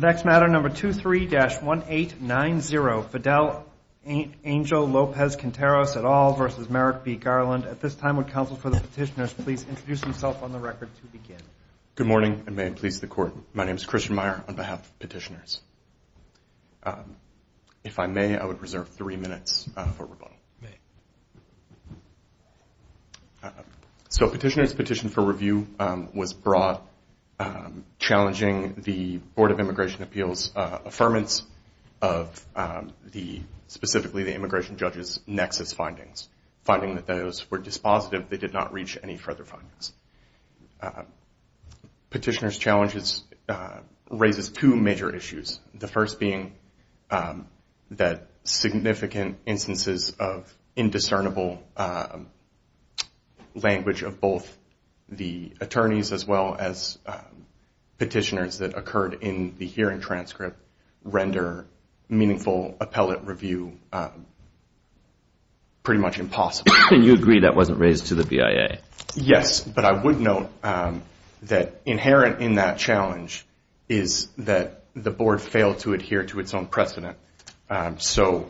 23-1890 Fidel Angel Lopez-Quinteros, et al. v. Merrick B. Garland Good morning and may it please the Court, my name is Christian Meyer on behalf of Petitioners. If I may, I would reserve three minutes for rebuttal. So Petitioners' petition for review was broad, challenging the Board of Immigration Appeals' affirmance of the, specifically the immigration judge's nexus findings, finding that those were dispositive, they did not reach any further findings. Petitioners' challenge raises two major issues, the first being that significant instances of indiscernible language of both the attorneys as well as petitioners that occurred in the hearing transcript render meaningful appellate review pretty much impossible. And you agree that wasn't raised to the BIA? Yes, but I would note that inherent in that challenge is that the Board failed to adhere to its own precedent. So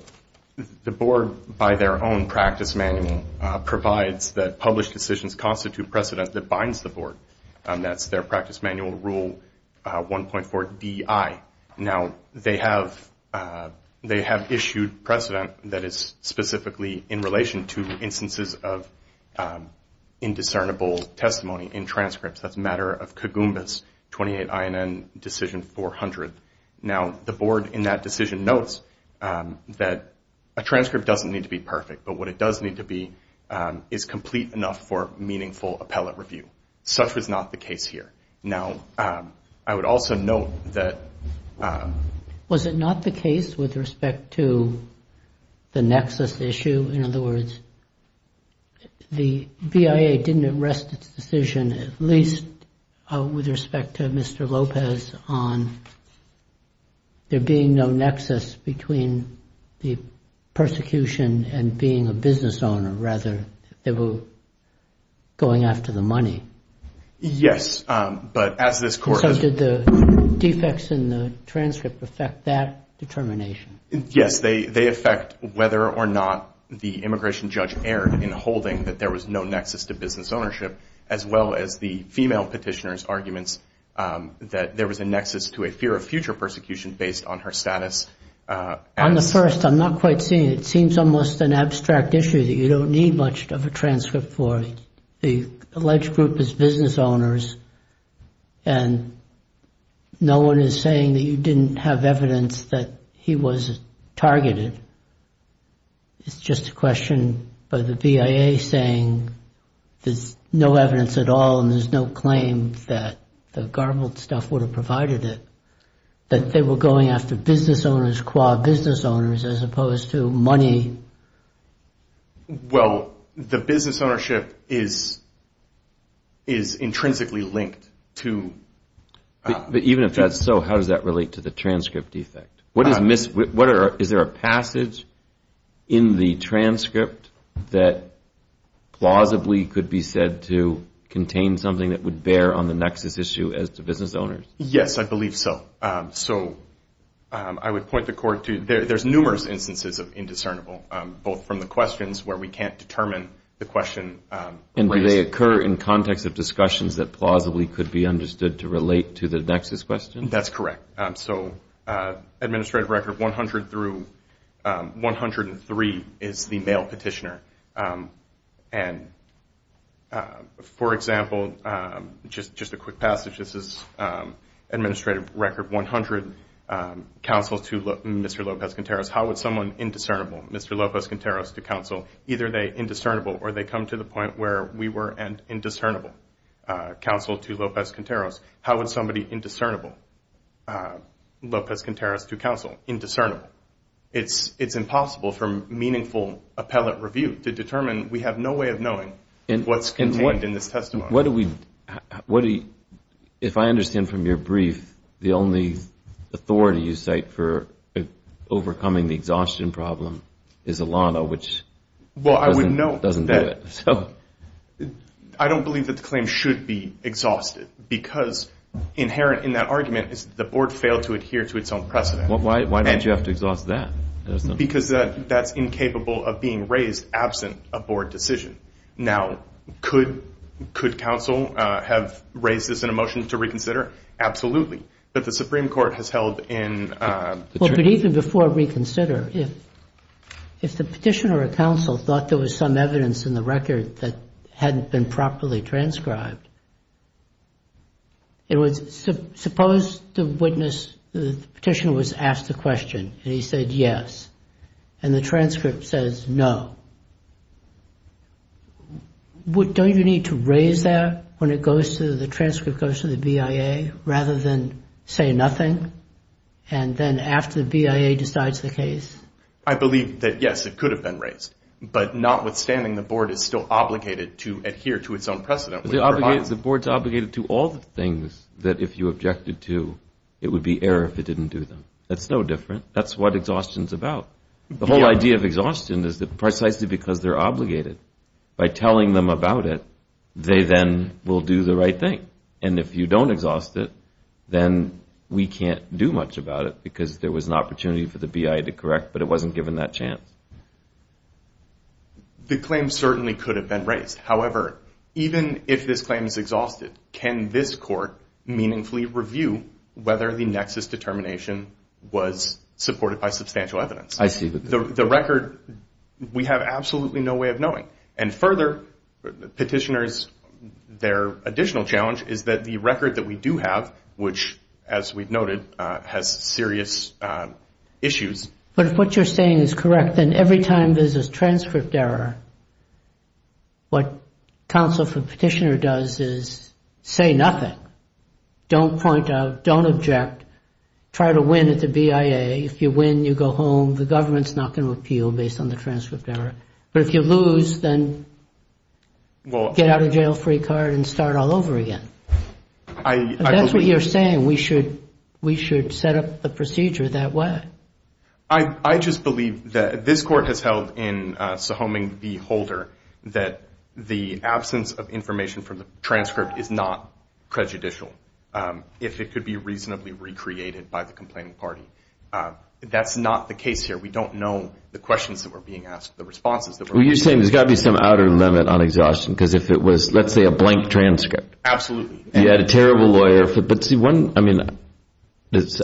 the Board, by their own practice manual, provides that published decisions constitute precedent that binds the Board. That's their practice manual rule 1.4DI. Now, they have issued precedent that is specifically in relation to instances of indiscernible testimony in transcripts. That's a matter of Cogumbas 28INN Decision 400. Now, the Board in that decision notes that a transcript doesn't need to be perfect, but what it does need to be is complete enough for meaningful appellate review. Such was not the case here. Now, I would also note that... Was it not the case with respect to the nexus issue? In other words, the BIA didn't arrest its decision, at least with respect to Mr. Lopez, on there being no nexus between the persecution and being a business owner. Rather, they were going after the money. Yes, but as this Court... So did the defects in the transcript affect that determination? Yes, they affect whether or not the immigration judge erred in holding that there was no nexus to business ownership, as well as the female petitioner's arguments that there was a nexus to a fear of future persecution based on her status. On the first, I'm not quite seeing it. It seems almost an abstract issue that you don't need much of a transcript for. The alleged group is business owners, and no one is saying that you didn't have evidence that he was targeted. It's just a question by the BIA saying there's no evidence at all, and there's no claim that the garbled stuff would have provided it, that they were going after business owners, qua business owners, as opposed to money. Well, the business ownership is intrinsically linked to... But even if that's so, how does that relate to the transcript defect? Is there a passage in the transcript that plausibly could be said to contain something that would bear on the nexus issue as to business owners? Yes, I believe so. So I would point the Court to there's numerous instances of indiscernible, both from the questions where we can't determine the question... And do they occur in context of discussions that plausibly could be understood to relate to the nexus question? That's correct. So Administrative Record 100 through 103 is the mail petitioner. And, for example, just a quick passage. This is Administrative Record 100, counsel to Mr. López-Conteros. How would someone indiscernible, Mr. López-Conteros to counsel, either they indiscernible or they come to the point where we were an indiscernible counsel to López-Conteros. How would somebody indiscernible, López-Conteros to counsel, indiscernible? It's impossible from meaningful appellate review to determine. We have no way of knowing what's contained in this testimony. What do we... If I understand from your brief, the only authority you cite for overcoming the exhaustion problem is Elano, which doesn't do it. Well, I would note that... Inherent in that argument is the board failed to adhere to its own precedent. Why don't you have to exhaust that? Because that's incapable of being raised absent a board decision. Now, could counsel have raised this in a motion to reconsider? Absolutely. But the Supreme Court has held in... But even before reconsider, if the petitioner or counsel thought there was some evidence in the record that hadn't been properly transcribed, suppose the petitioner was asked a question and he said yes and the transcript says no. Don't you need to raise that when the transcript goes to the BIA rather than say nothing and then after the BIA decides the case? I believe that yes, it could have been raised. But notwithstanding, the board is still obligated to adhere to its own precedent. The board's obligated to all the things that if you objected to, it would be error if it didn't do them. That's no different. That's what exhaustion's about. The whole idea of exhaustion is that precisely because they're obligated, by telling them about it, they then will do the right thing. And if you don't exhaust it, then we can't do much about it because there was an opportunity for the BIA to correct, but it wasn't given that chance. The claim certainly could have been raised. However, even if this claim is exhausted, can this court meaningfully review whether the nexus determination was supported by substantial evidence? I see the point. The record, we have absolutely no way of knowing. And further, petitioners, their additional challenge is that the record that we do have, which as we've noted, has serious issues. But if what you're saying is correct, then every time there's a transcript error, what counsel for petitioner does is say nothing. Don't point out. Don't object. Try to win at the BIA. If you win, you go home. The government's not going to appeal based on the transcript error. But if you lose, then get out a jail-free card and start all over again. If that's what you're saying, we should set up the procedure that way. I just believe that this court has held in Sohoming v. Holder that the absence of information from the transcript is not prejudicial, if it could be reasonably recreated by the complaining party. That's not the case here. We don't know the questions that were being asked, the responses that were being asked. Well, you're saying there's got to be some outer limit on exhaustion. Because if it was, let's say, a blank transcript. Absolutely. You had a terrible lawyer. But see, one, I mean,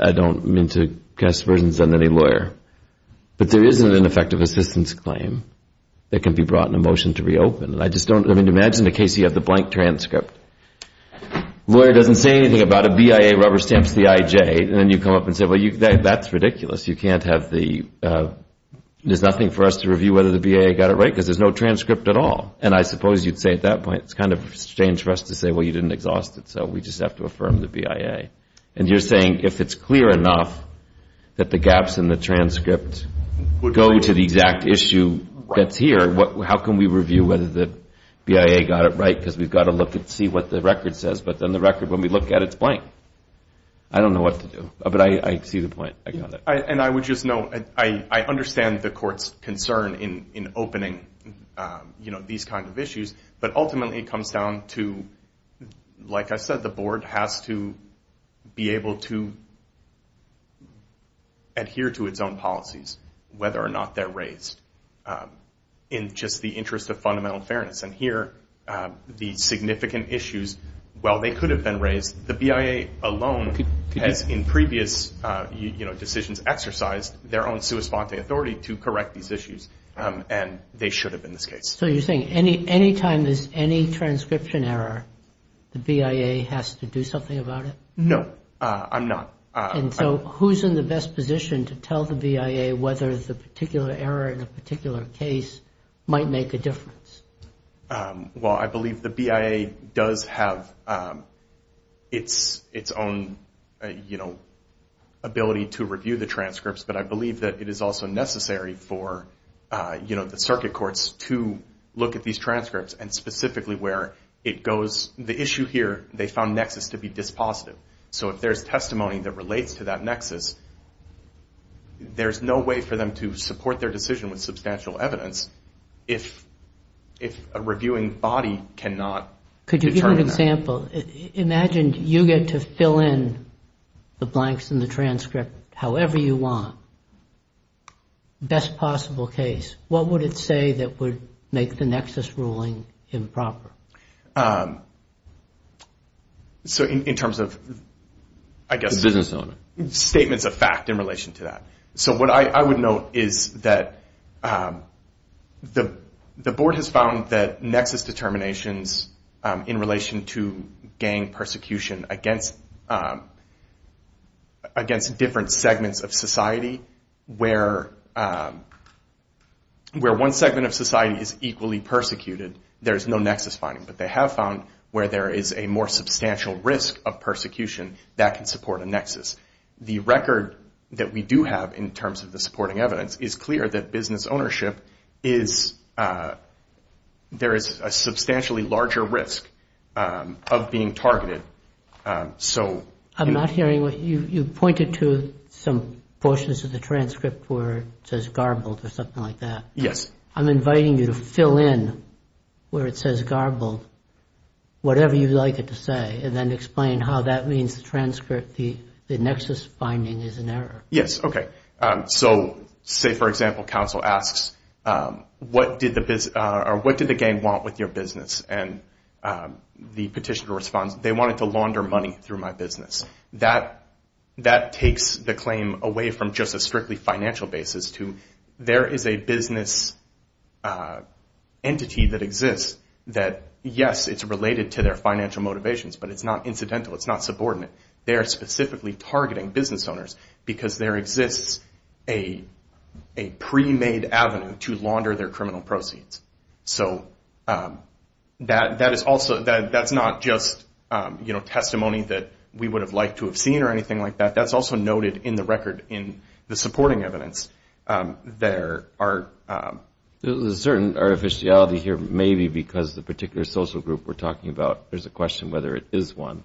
I don't mean to cast versions on any lawyer. But there is an ineffective assistance claim that can be brought in a motion to reopen. And I just don't, I mean, imagine a case you have the blank transcript. Lawyer doesn't say anything about it. BIA rubber stamps the IJ. And then you come up and say, well, that's ridiculous. You can't have the, there's nothing for us to review whether the BIA got it right. Because there's no transcript at all. And I suppose you'd say at that point, it's kind of strange for us to say, well, you didn't exhaust it. So we just have to affirm the BIA. And you're saying if it's clear enough that the gaps in the transcript go to the exact issue that's here, how can we review whether the BIA got it right? Because we've got to look and see what the record says. But then the record, when we look at it, it's blank. I don't know what to do. But I see the point. And I would just note, I understand the court's concern in opening, you know, these kinds of issues. But ultimately it comes down to, like I said, the board has to be able to adhere to its own policies, whether or not they're raised in just the interest of fundamental fairness. And here the significant issues, while they could have been raised, the BIA alone has in previous decisions exercised their own sua sponte authority to correct these issues. And they should have in this case. So you're saying any time there's any transcription error, the BIA has to do something about it? No, I'm not. And so who's in the best position to tell the BIA whether the particular error in a particular case might make a difference? Well, I believe the BIA does have its own, you know, ability to review the transcripts. But I believe that it is also necessary for, you know, the circuit courts to look at these transcripts and specifically where it goes. The issue here, they found nexus to be dispositive. So if there's testimony that relates to that nexus, there's no way for them to support their decision with substantial evidence if a reviewing body cannot determine that. Could you give an example? Imagine you get to fill in the blanks in the transcript however you want, best possible case. What would it say that would make the nexus ruling improper? So in terms of, I guess. The business element. Statements of fact in relation to that. So what I would note is that the board has found that nexus determinations in relation to gang persecution against different segments of society where one segment of society is equally persecuted, there's no nexus finding. But they have found where there is a more substantial risk of persecution that can support a nexus. The record that we do have in terms of the supporting evidence is clear that business ownership is, there is a substantially larger risk of being targeted. So. I'm not hearing. You pointed to some portions of the transcript where it says garbled or something like that. Yes. I'm inviting you to fill in where it says garbled, whatever you'd like it to say, and then explain how that means the transcript, the nexus finding is an error. Yes. Okay. So say, for example, counsel asks, what did the gang want with your business? And the petitioner responds, they wanted to launder money through my business. That takes the claim away from just a strictly financial basis to there is a business entity that exists that, yes, it's related to their financial motivations, but it's not incidental. It's not subordinate. They are specifically targeting business owners because there exists a pre-made avenue to launder their criminal proceeds. So that is also, that's not just, you know, testimony that we would have liked to have seen or anything like that. That's also noted in the record in the supporting evidence. There are. There's a certain artificiality here maybe because the particular social group we're talking about, there's a question whether it is one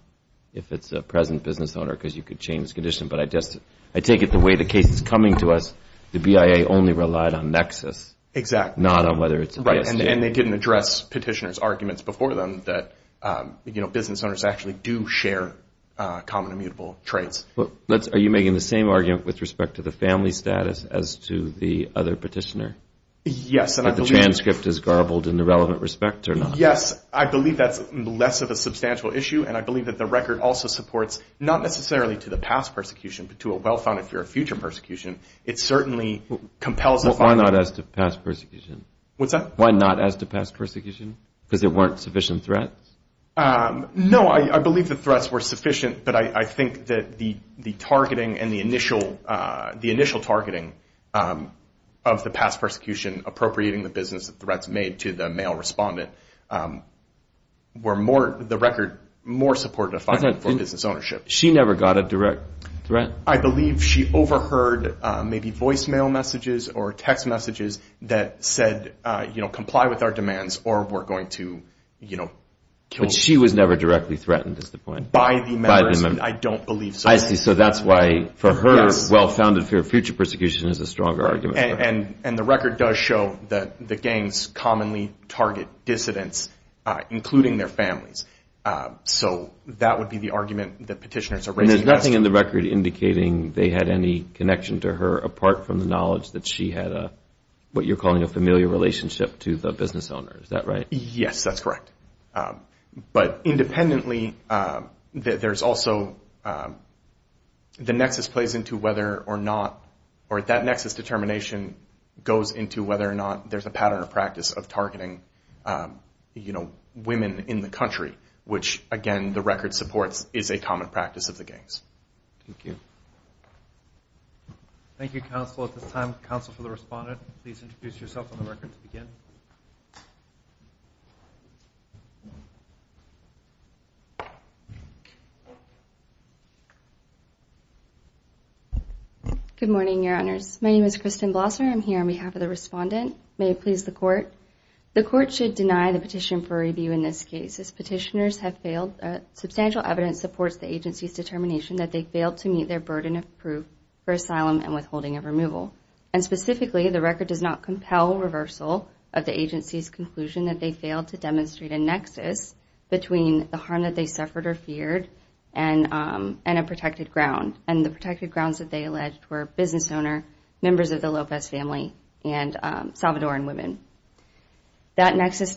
if it's a present business owner because you could change the condition, but I just, I take it the way the case is coming to us, the BIA only relied on nexus. Exactly. Not on whether it's. And they didn't address petitioner's arguments before them that, you know, business owners actually do share common immutable traits. Are you making the same argument with respect to the family status as to the other petitioner? Yes. The transcript is garbled in the relevant respect or not? Yes. I believe that's less of a substantial issue, and I believe that the record also supports not necessarily to the past persecution, but to a well-founded for a future persecution. It certainly compels. Why not as to past persecution? What's that? Why not as to past persecution? Because there weren't sufficient threats? No, I believe the threats were sufficient, but I think that the targeting and the initial targeting of the past persecution appropriating the business that threats made to the male respondent were more, the record more supportive of business ownership. She never got a direct threat. I believe she overheard maybe voicemail messages or text messages that said, you know, comply with our demands or we're going to, you know, kill. But she was never directly threatened is the point? By the members. I don't believe so. I see. So that's why for her well-founded for a future persecution is a stronger argument. And the record does show that the gangs commonly target dissidents, including their families. So that would be the argument that petitioners are raising. And there's nothing in the record indicating they had any connection to her, apart from the knowledge that she had what you're calling a familiar relationship to the business owner. Is that right? Yes, that's correct. But independently, there's also the nexus plays into whether or not, or that nexus determination goes into whether or not there's a pattern of practice of targeting, you know, Thank you. Thank you, Counsel. At this time, Counsel for the Respondent, please introduce yourself on the record to begin. Good morning, Your Honors. My name is Kristen Blosser. I'm here on behalf of the Respondent. May it please the Court. The Court should deny the petition for review in this case. Substantial evidence supports the agency's determination that they failed to meet their burden of proof for asylum and withholding of removal. And specifically, the record does not compel reversal of the agency's conclusion that they failed to demonstrate a nexus between the harm that they suffered or feared and a protected ground. And the protected grounds that they alleged were business owner, members of the Lopez family, and Salvadoran women. That nexus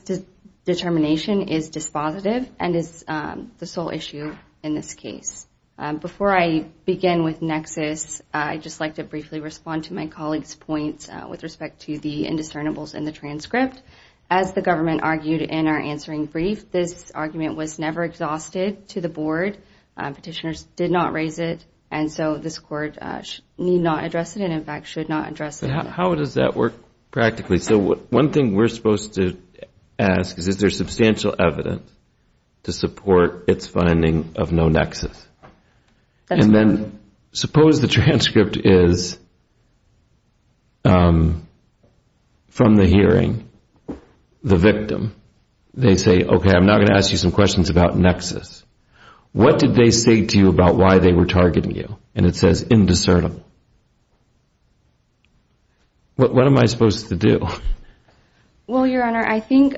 determination is dispositive and is the sole issue in this case. Before I begin with nexus, I'd just like to briefly respond to my colleague's points with respect to the indiscernibles in the transcript. As the government argued in our answering brief, this argument was never exhausted to the Board. Petitioners did not raise it, and so this Court need not address it and, in fact, should not address it. How does that work practically? So one thing we're supposed to ask is, is there substantial evidence to support its finding of no nexus? And then suppose the transcript is from the hearing, the victim. They say, okay, I'm now going to ask you some questions about nexus. What did they say to you about why they were targeting you? And it says indiscernible. What am I supposed to do? Well, Your Honor, I think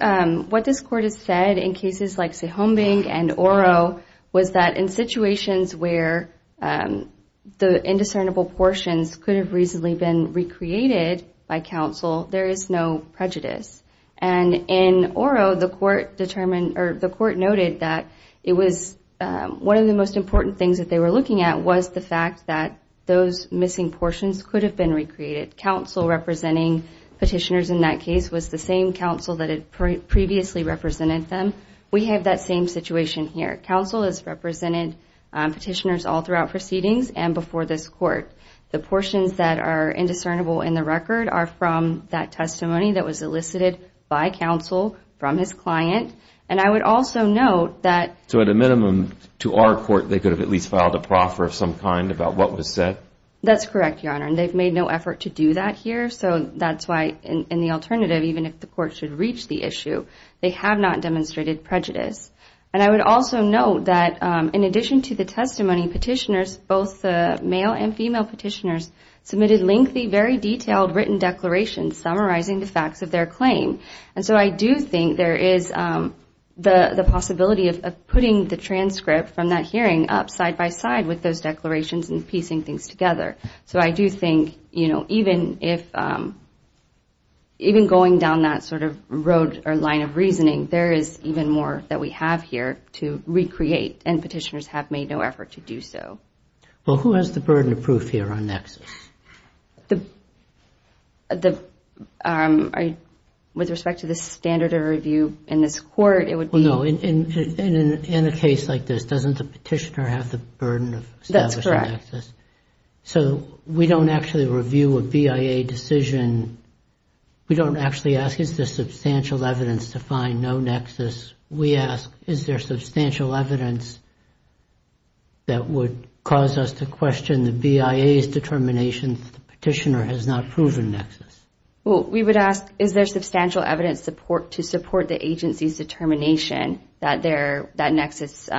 what this Court has said in cases like Sihombing and Oro was that in situations where the indiscernible portions could have reasonably been recreated by counsel, there is no prejudice. And in Oro, the Court determined or the Court noted that it was one of the most important things that they were looking at was the fact that those missing portions could have been recreated. Counsel representing petitioners in that case was the same counsel that had previously represented them. We have that same situation here. Counsel has represented petitioners all throughout proceedings and before this Court. The portions that are indiscernible in the record are from that testimony that was elicited by counsel from his client. And I would also note that... That's correct, Your Honor, and they've made no effort to do that here. So that's why in the alternative, even if the Court should reach the issue, they have not demonstrated prejudice. And I would also note that in addition to the testimony, petitioners, both the male and female petitioners, submitted lengthy, very detailed written declarations summarizing the facts of their claim. And so I do think there is the possibility of putting the transcript from that hearing up side by side with those declarations and piecing things together. So I do think, you know, even if... Even going down that sort of road or line of reasoning, there is even more that we have here to recreate. And petitioners have made no effort to do so. Well, who has the burden of proof here on nexus? The... With respect to the standard of review in this Court, it would be... Well, no, in a case like this, doesn't the petitioner have the burden of establishing nexus? That's correct. So we don't actually review a BIA decision. We don't actually ask, is there substantial evidence to find no nexus? We ask, is there substantial evidence that would cause us to question the BIA's determination that the petitioner has not proven nexus? Well, we would ask, is there substantial evidence to support the agency's determination that nexus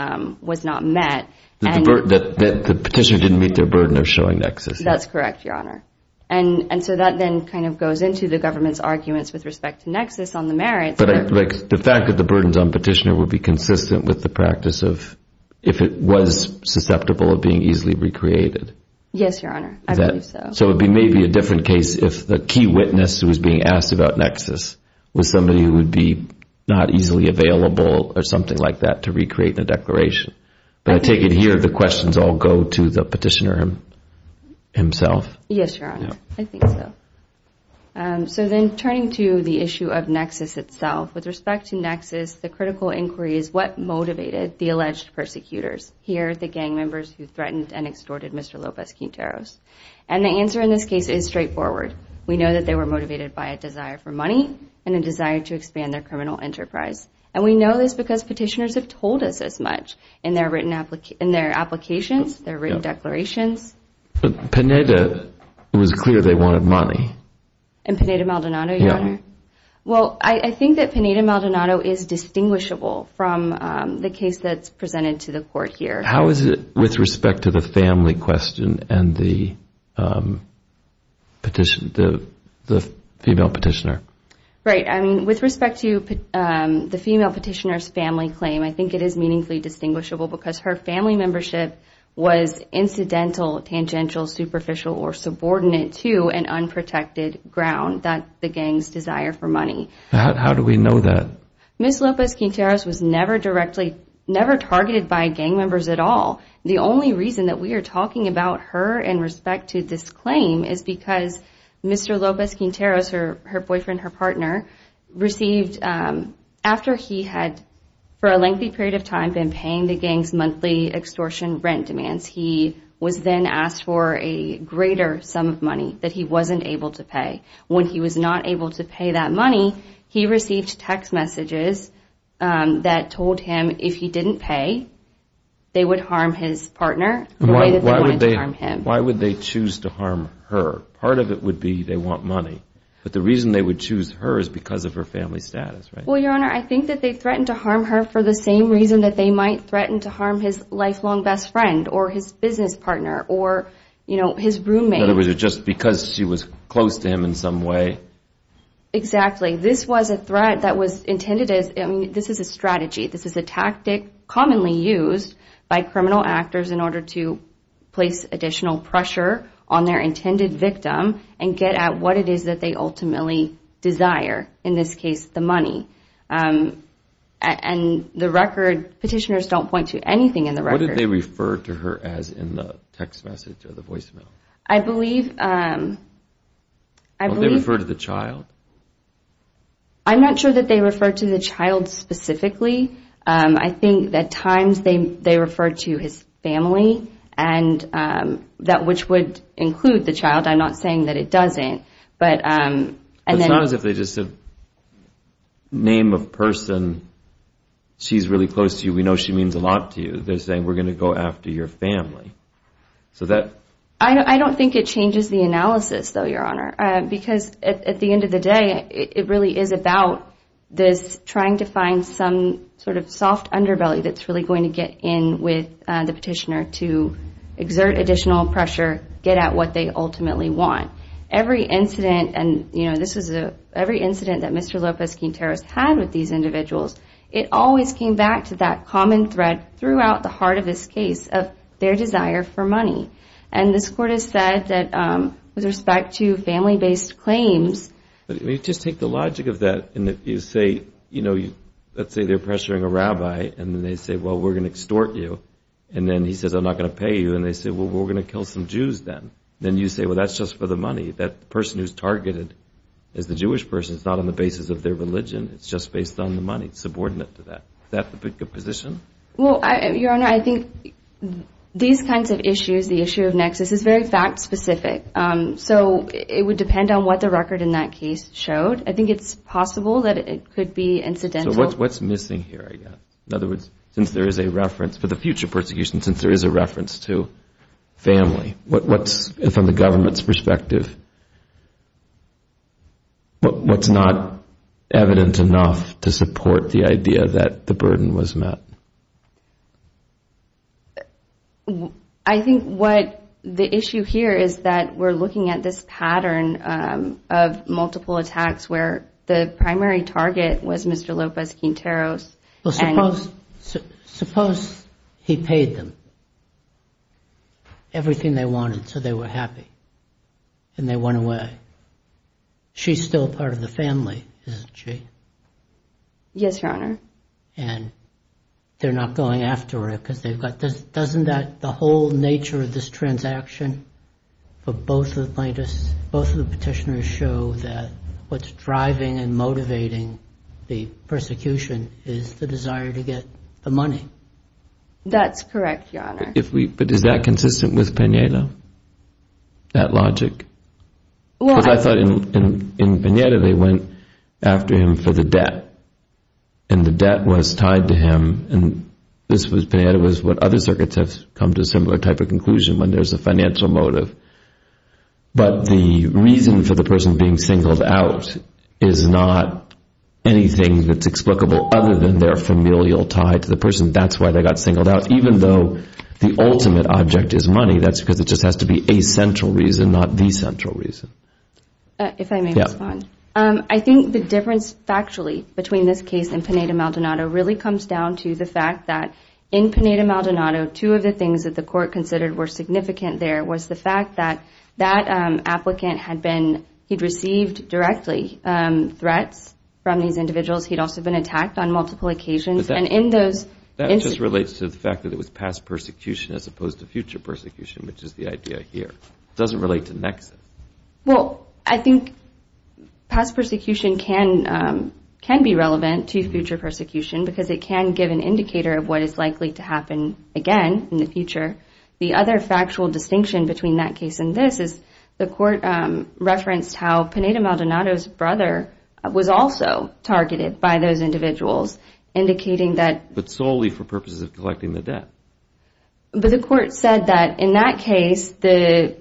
was not met? That the petitioner didn't meet their burden of showing nexus. That's correct, Your Honor. And so that then kind of goes into the government's arguments with respect to nexus on the merits. But the fact that the burdens on petitioner would be consistent with the practice of if it was susceptible of being easily recreated. Yes, Your Honor, I believe so. So it may be a different case if the key witness who was being asked about nexus was somebody who would be not easily available or something like that to recreate the declaration. But I take it here the questions all go to the petitioner himself. Yes, Your Honor, I think so. So then turning to the issue of nexus itself, with respect to nexus, the critical inquiry is what motivated the alleged persecutors. Here, the gang members who threatened and extorted Mr. Lopez-Quinteros. And the answer in this case is straightforward. We know that they were motivated by a desire for money and a desire to expand their criminal enterprise. And we know this because petitioners have told us as much in their written applications, their written declarations. But Pineda, it was clear they wanted money. In Pineda-Maldonado, Your Honor? Yes. Well, I think that Pineda-Maldonado is distinguishable from the case that's presented to the court here. How is it with respect to the family question and the petitioner, the female petitioner? Right. I mean, with respect to the female petitioner's family claim, I think it is meaningfully distinguishable because her family membership was incidental, tangential, superficial, or subordinate to an unprotected ground that the gangs desire for money. How do we know that? Ms. Lopez-Quinteros was never targeted by gang members at all. The only reason that we are talking about her in respect to this claim is because Mr. Lopez-Quinteros, her boyfriend, her partner, received, after he had for a lengthy period of time been paying the gangs monthly extortion rent demands, he was then asked for a greater sum of money that he wasn't able to pay. When he was not able to pay that money, he received text messages that told him if he didn't pay, they would harm his partner the way that they wanted to harm him. Why would they choose to harm her? Part of it would be they want money, but the reason they would choose her is because of her family status, right? Well, Your Honor, I think that they threatened to harm her for the same reason that they might threaten to harm his lifelong best friend or his business partner or, you know, his roommate. In other words, just because she was close to him in some way? Exactly. This was a threat that was intended as, I mean, this is a strategy. This is a tactic commonly used by criminal actors in order to place additional pressure on their intended victim and get at what it is that they ultimately desire, in this case, the money. And the record, petitioners don't point to anything in the record. What did they refer to her as in the text message or the voicemail? I believe... Did they refer to the child? I'm not sure that they referred to the child specifically. I think at times they referred to his family, which would include the child. I'm not saying that it doesn't. It's not as if they just said, name of person, she's really close to you, we know she means a lot to you. They're saying we're going to go after your family. I don't think it changes the analysis, though, Your Honor, because at the end of the day, it really is about this trying to find some sort of soft underbelly that's really going to get in with the petitioner to exert additional pressure, get at what they ultimately want. Every incident, and this is every incident that Mr. Lopez-Quinteros had with these individuals, it always came back to that common thread throughout the heart of this case of their desire for money. And this Court has said that with respect to family-based claims... Let me just take the logic of that in that you say, let's say they're pressuring a rabbi, and then they say, well, we're going to extort you. And then he says, I'm not going to pay you. And they say, well, we're going to kill some Jews then. Then you say, well, that's just for the money. That person who's targeted is the Jewish person. It's not on the basis of their religion. It's just based on the money. It's subordinate to that. Is that the position? Well, Your Honor, I think these kinds of issues, the issue of nexus, is very fact-specific. So it would depend on what the record in that case showed. I think it's possible that it could be incidental. So what's missing here, I guess? In other words, since there is a reference for the future persecution, since there is a reference to family, what's, from the government's perspective, what's not evident enough to support the idea that the burden was met? I think what the issue here is that we're looking at this pattern of multiple attacks where the primary target was Mr. Lopez Quinteros. Well, suppose he paid them everything they wanted so they were happy and they went away. She's still part of the family, isn't she? Yes, Your Honor. And they're not going after her because they've got this. Doesn't that, the whole nature of this transaction for both of the plaintiffs, both of the petitioners show that what's driving and motivating the persecution is the desire to get the money. That's correct, Your Honor. But is that consistent with Pineda, that logic? Why? Because I thought in Pineda they went after him for the debt, and the debt was tied to him. And this was, Pineda was what other circuits have come to a similar type of conclusion when there's a financial motive. But the reason for the person being singled out is not anything that's explicable other than their familial tie to the person. That's why they got singled out. Even though the ultimate object is money, that's because it just has to be a central reason, not the central reason. If I may respond. I think the difference factually between this case and Pineda-Maldonado really comes down to the fact that in Pineda-Maldonado, two of the things that the court considered were significant there was the fact that that applicant had been, he'd received directly threats from these individuals. He'd also been attacked on multiple occasions. That just relates to the fact that it was past persecution as opposed to future persecution, which is the idea here. It doesn't relate to nexus. Well, I think past persecution can be relevant to future persecution because it can give an indicator of what is likely to happen again in the future. The other factual distinction between that case and this is the court referenced how Pineda-Maldonado's brother was also targeted by those individuals, indicating that. But solely for purposes of collecting the debt. But the court said that in that case, the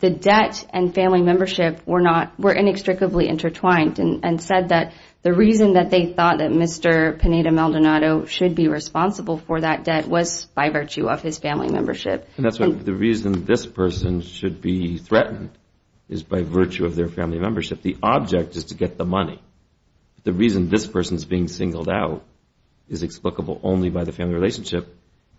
debt and family membership were inextricably intertwined and said that the reason that they thought that Mr. Pineda-Maldonado should be responsible for that debt was by virtue of his family membership. And that's the reason this person should be threatened is by virtue of their family membership. The object is to get the money. The reason this person is being singled out is explicable only by the family relationship.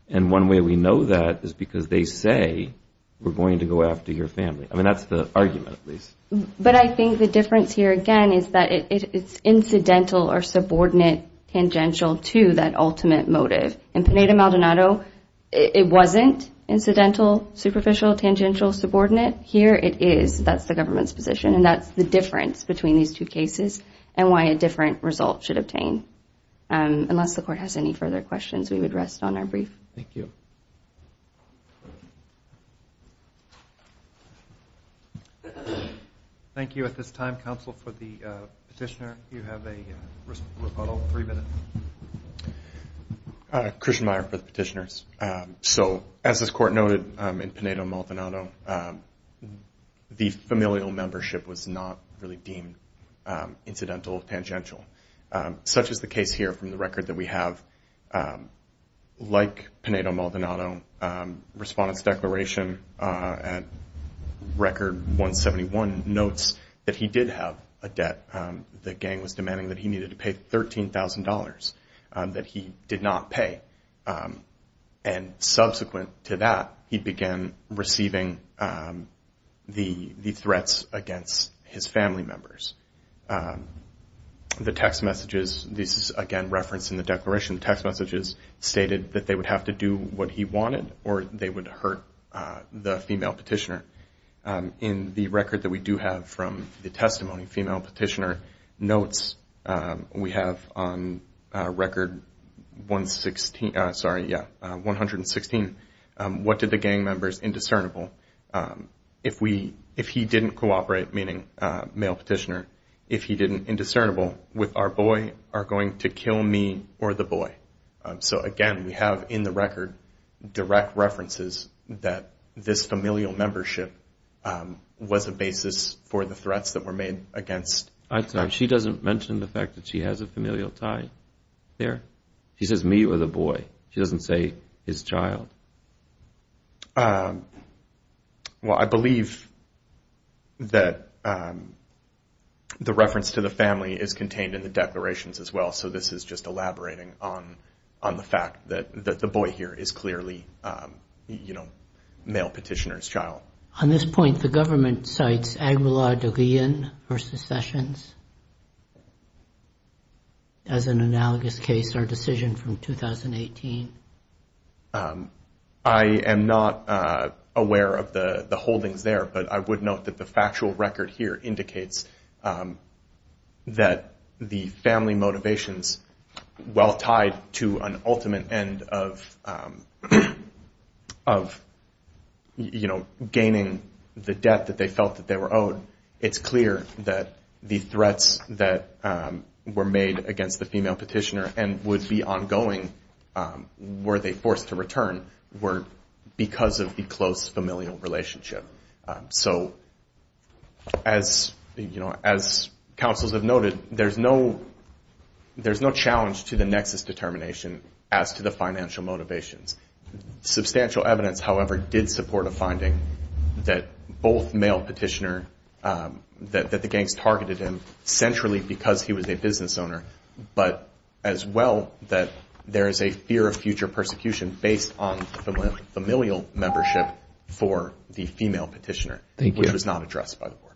And one way we know that is because they say we're going to go after your family. I mean, that's the argument, at least. But I think the difference here, again, is that it's incidental or subordinate tangential to that ultimate motive. In Pineda-Maldonado, it wasn't incidental, superficial, tangential, subordinate. Here it is. That's the government's position. And that's the difference between these two cases and why a different result should obtain. Unless the court has any further questions, we would rest on our brief. Thank you. Thank you. At this time, counsel for the petitioner, you have a rebuttal, three minutes. Christian Meyer for the petitioners. So as this court noted in Pineda-Maldonado, the familial membership was not really deemed incidental or tangential. Such is the case here from the record that we have. Like Pineda-Maldonado, Respondent's Declaration Record 171 notes that he did have a debt. The gang was demanding that he needed to pay $13,000 that he did not pay. And subsequent to that, he began receiving the threats against his family members. The text messages, this is, again, referenced in the declaration. The text messages stated that they would have to do what he wanted or they would hurt the female petitioner. In the record that we do have from the testimony, female petitioner notes we have on record 116. What did the gang members indiscernible? If he didn't cooperate, meaning male petitioner, if he didn't indiscernible with our boy are going to kill me or the boy. So again, we have in the record direct references that this familial membership was a basis for the threats that were made against. She doesn't mention the fact that she has a familial tie there. She says me or the boy. She doesn't say his child. Well, I believe that the reference to the family is contained in the declarations as well. So this is just elaborating on the fact that the boy here is clearly, you know, male petitioner's child. On this point, the government cites Aguilar de Leon versus Sessions as an analogous case or decision from 2018. I am not aware of the holdings there, but I would note that the factual record here indicates that the family motivation is well tied to an ultimate end of, you know, gaining the debt that they felt that they were owed. It's clear that the threats that were made against the female petitioner and would be ongoing were they forced to return were because of the close familial relationship. So as, you know, as counsels have noted, there's no challenge to the nexus determination as to the financial motivations. Substantial evidence, however, did support a finding that both male petitioner, that the gangs targeted him centrally because he was a business owner, but as well that there is a fear of future persecution based on familial membership for the female petitioner. It was not addressed by the board.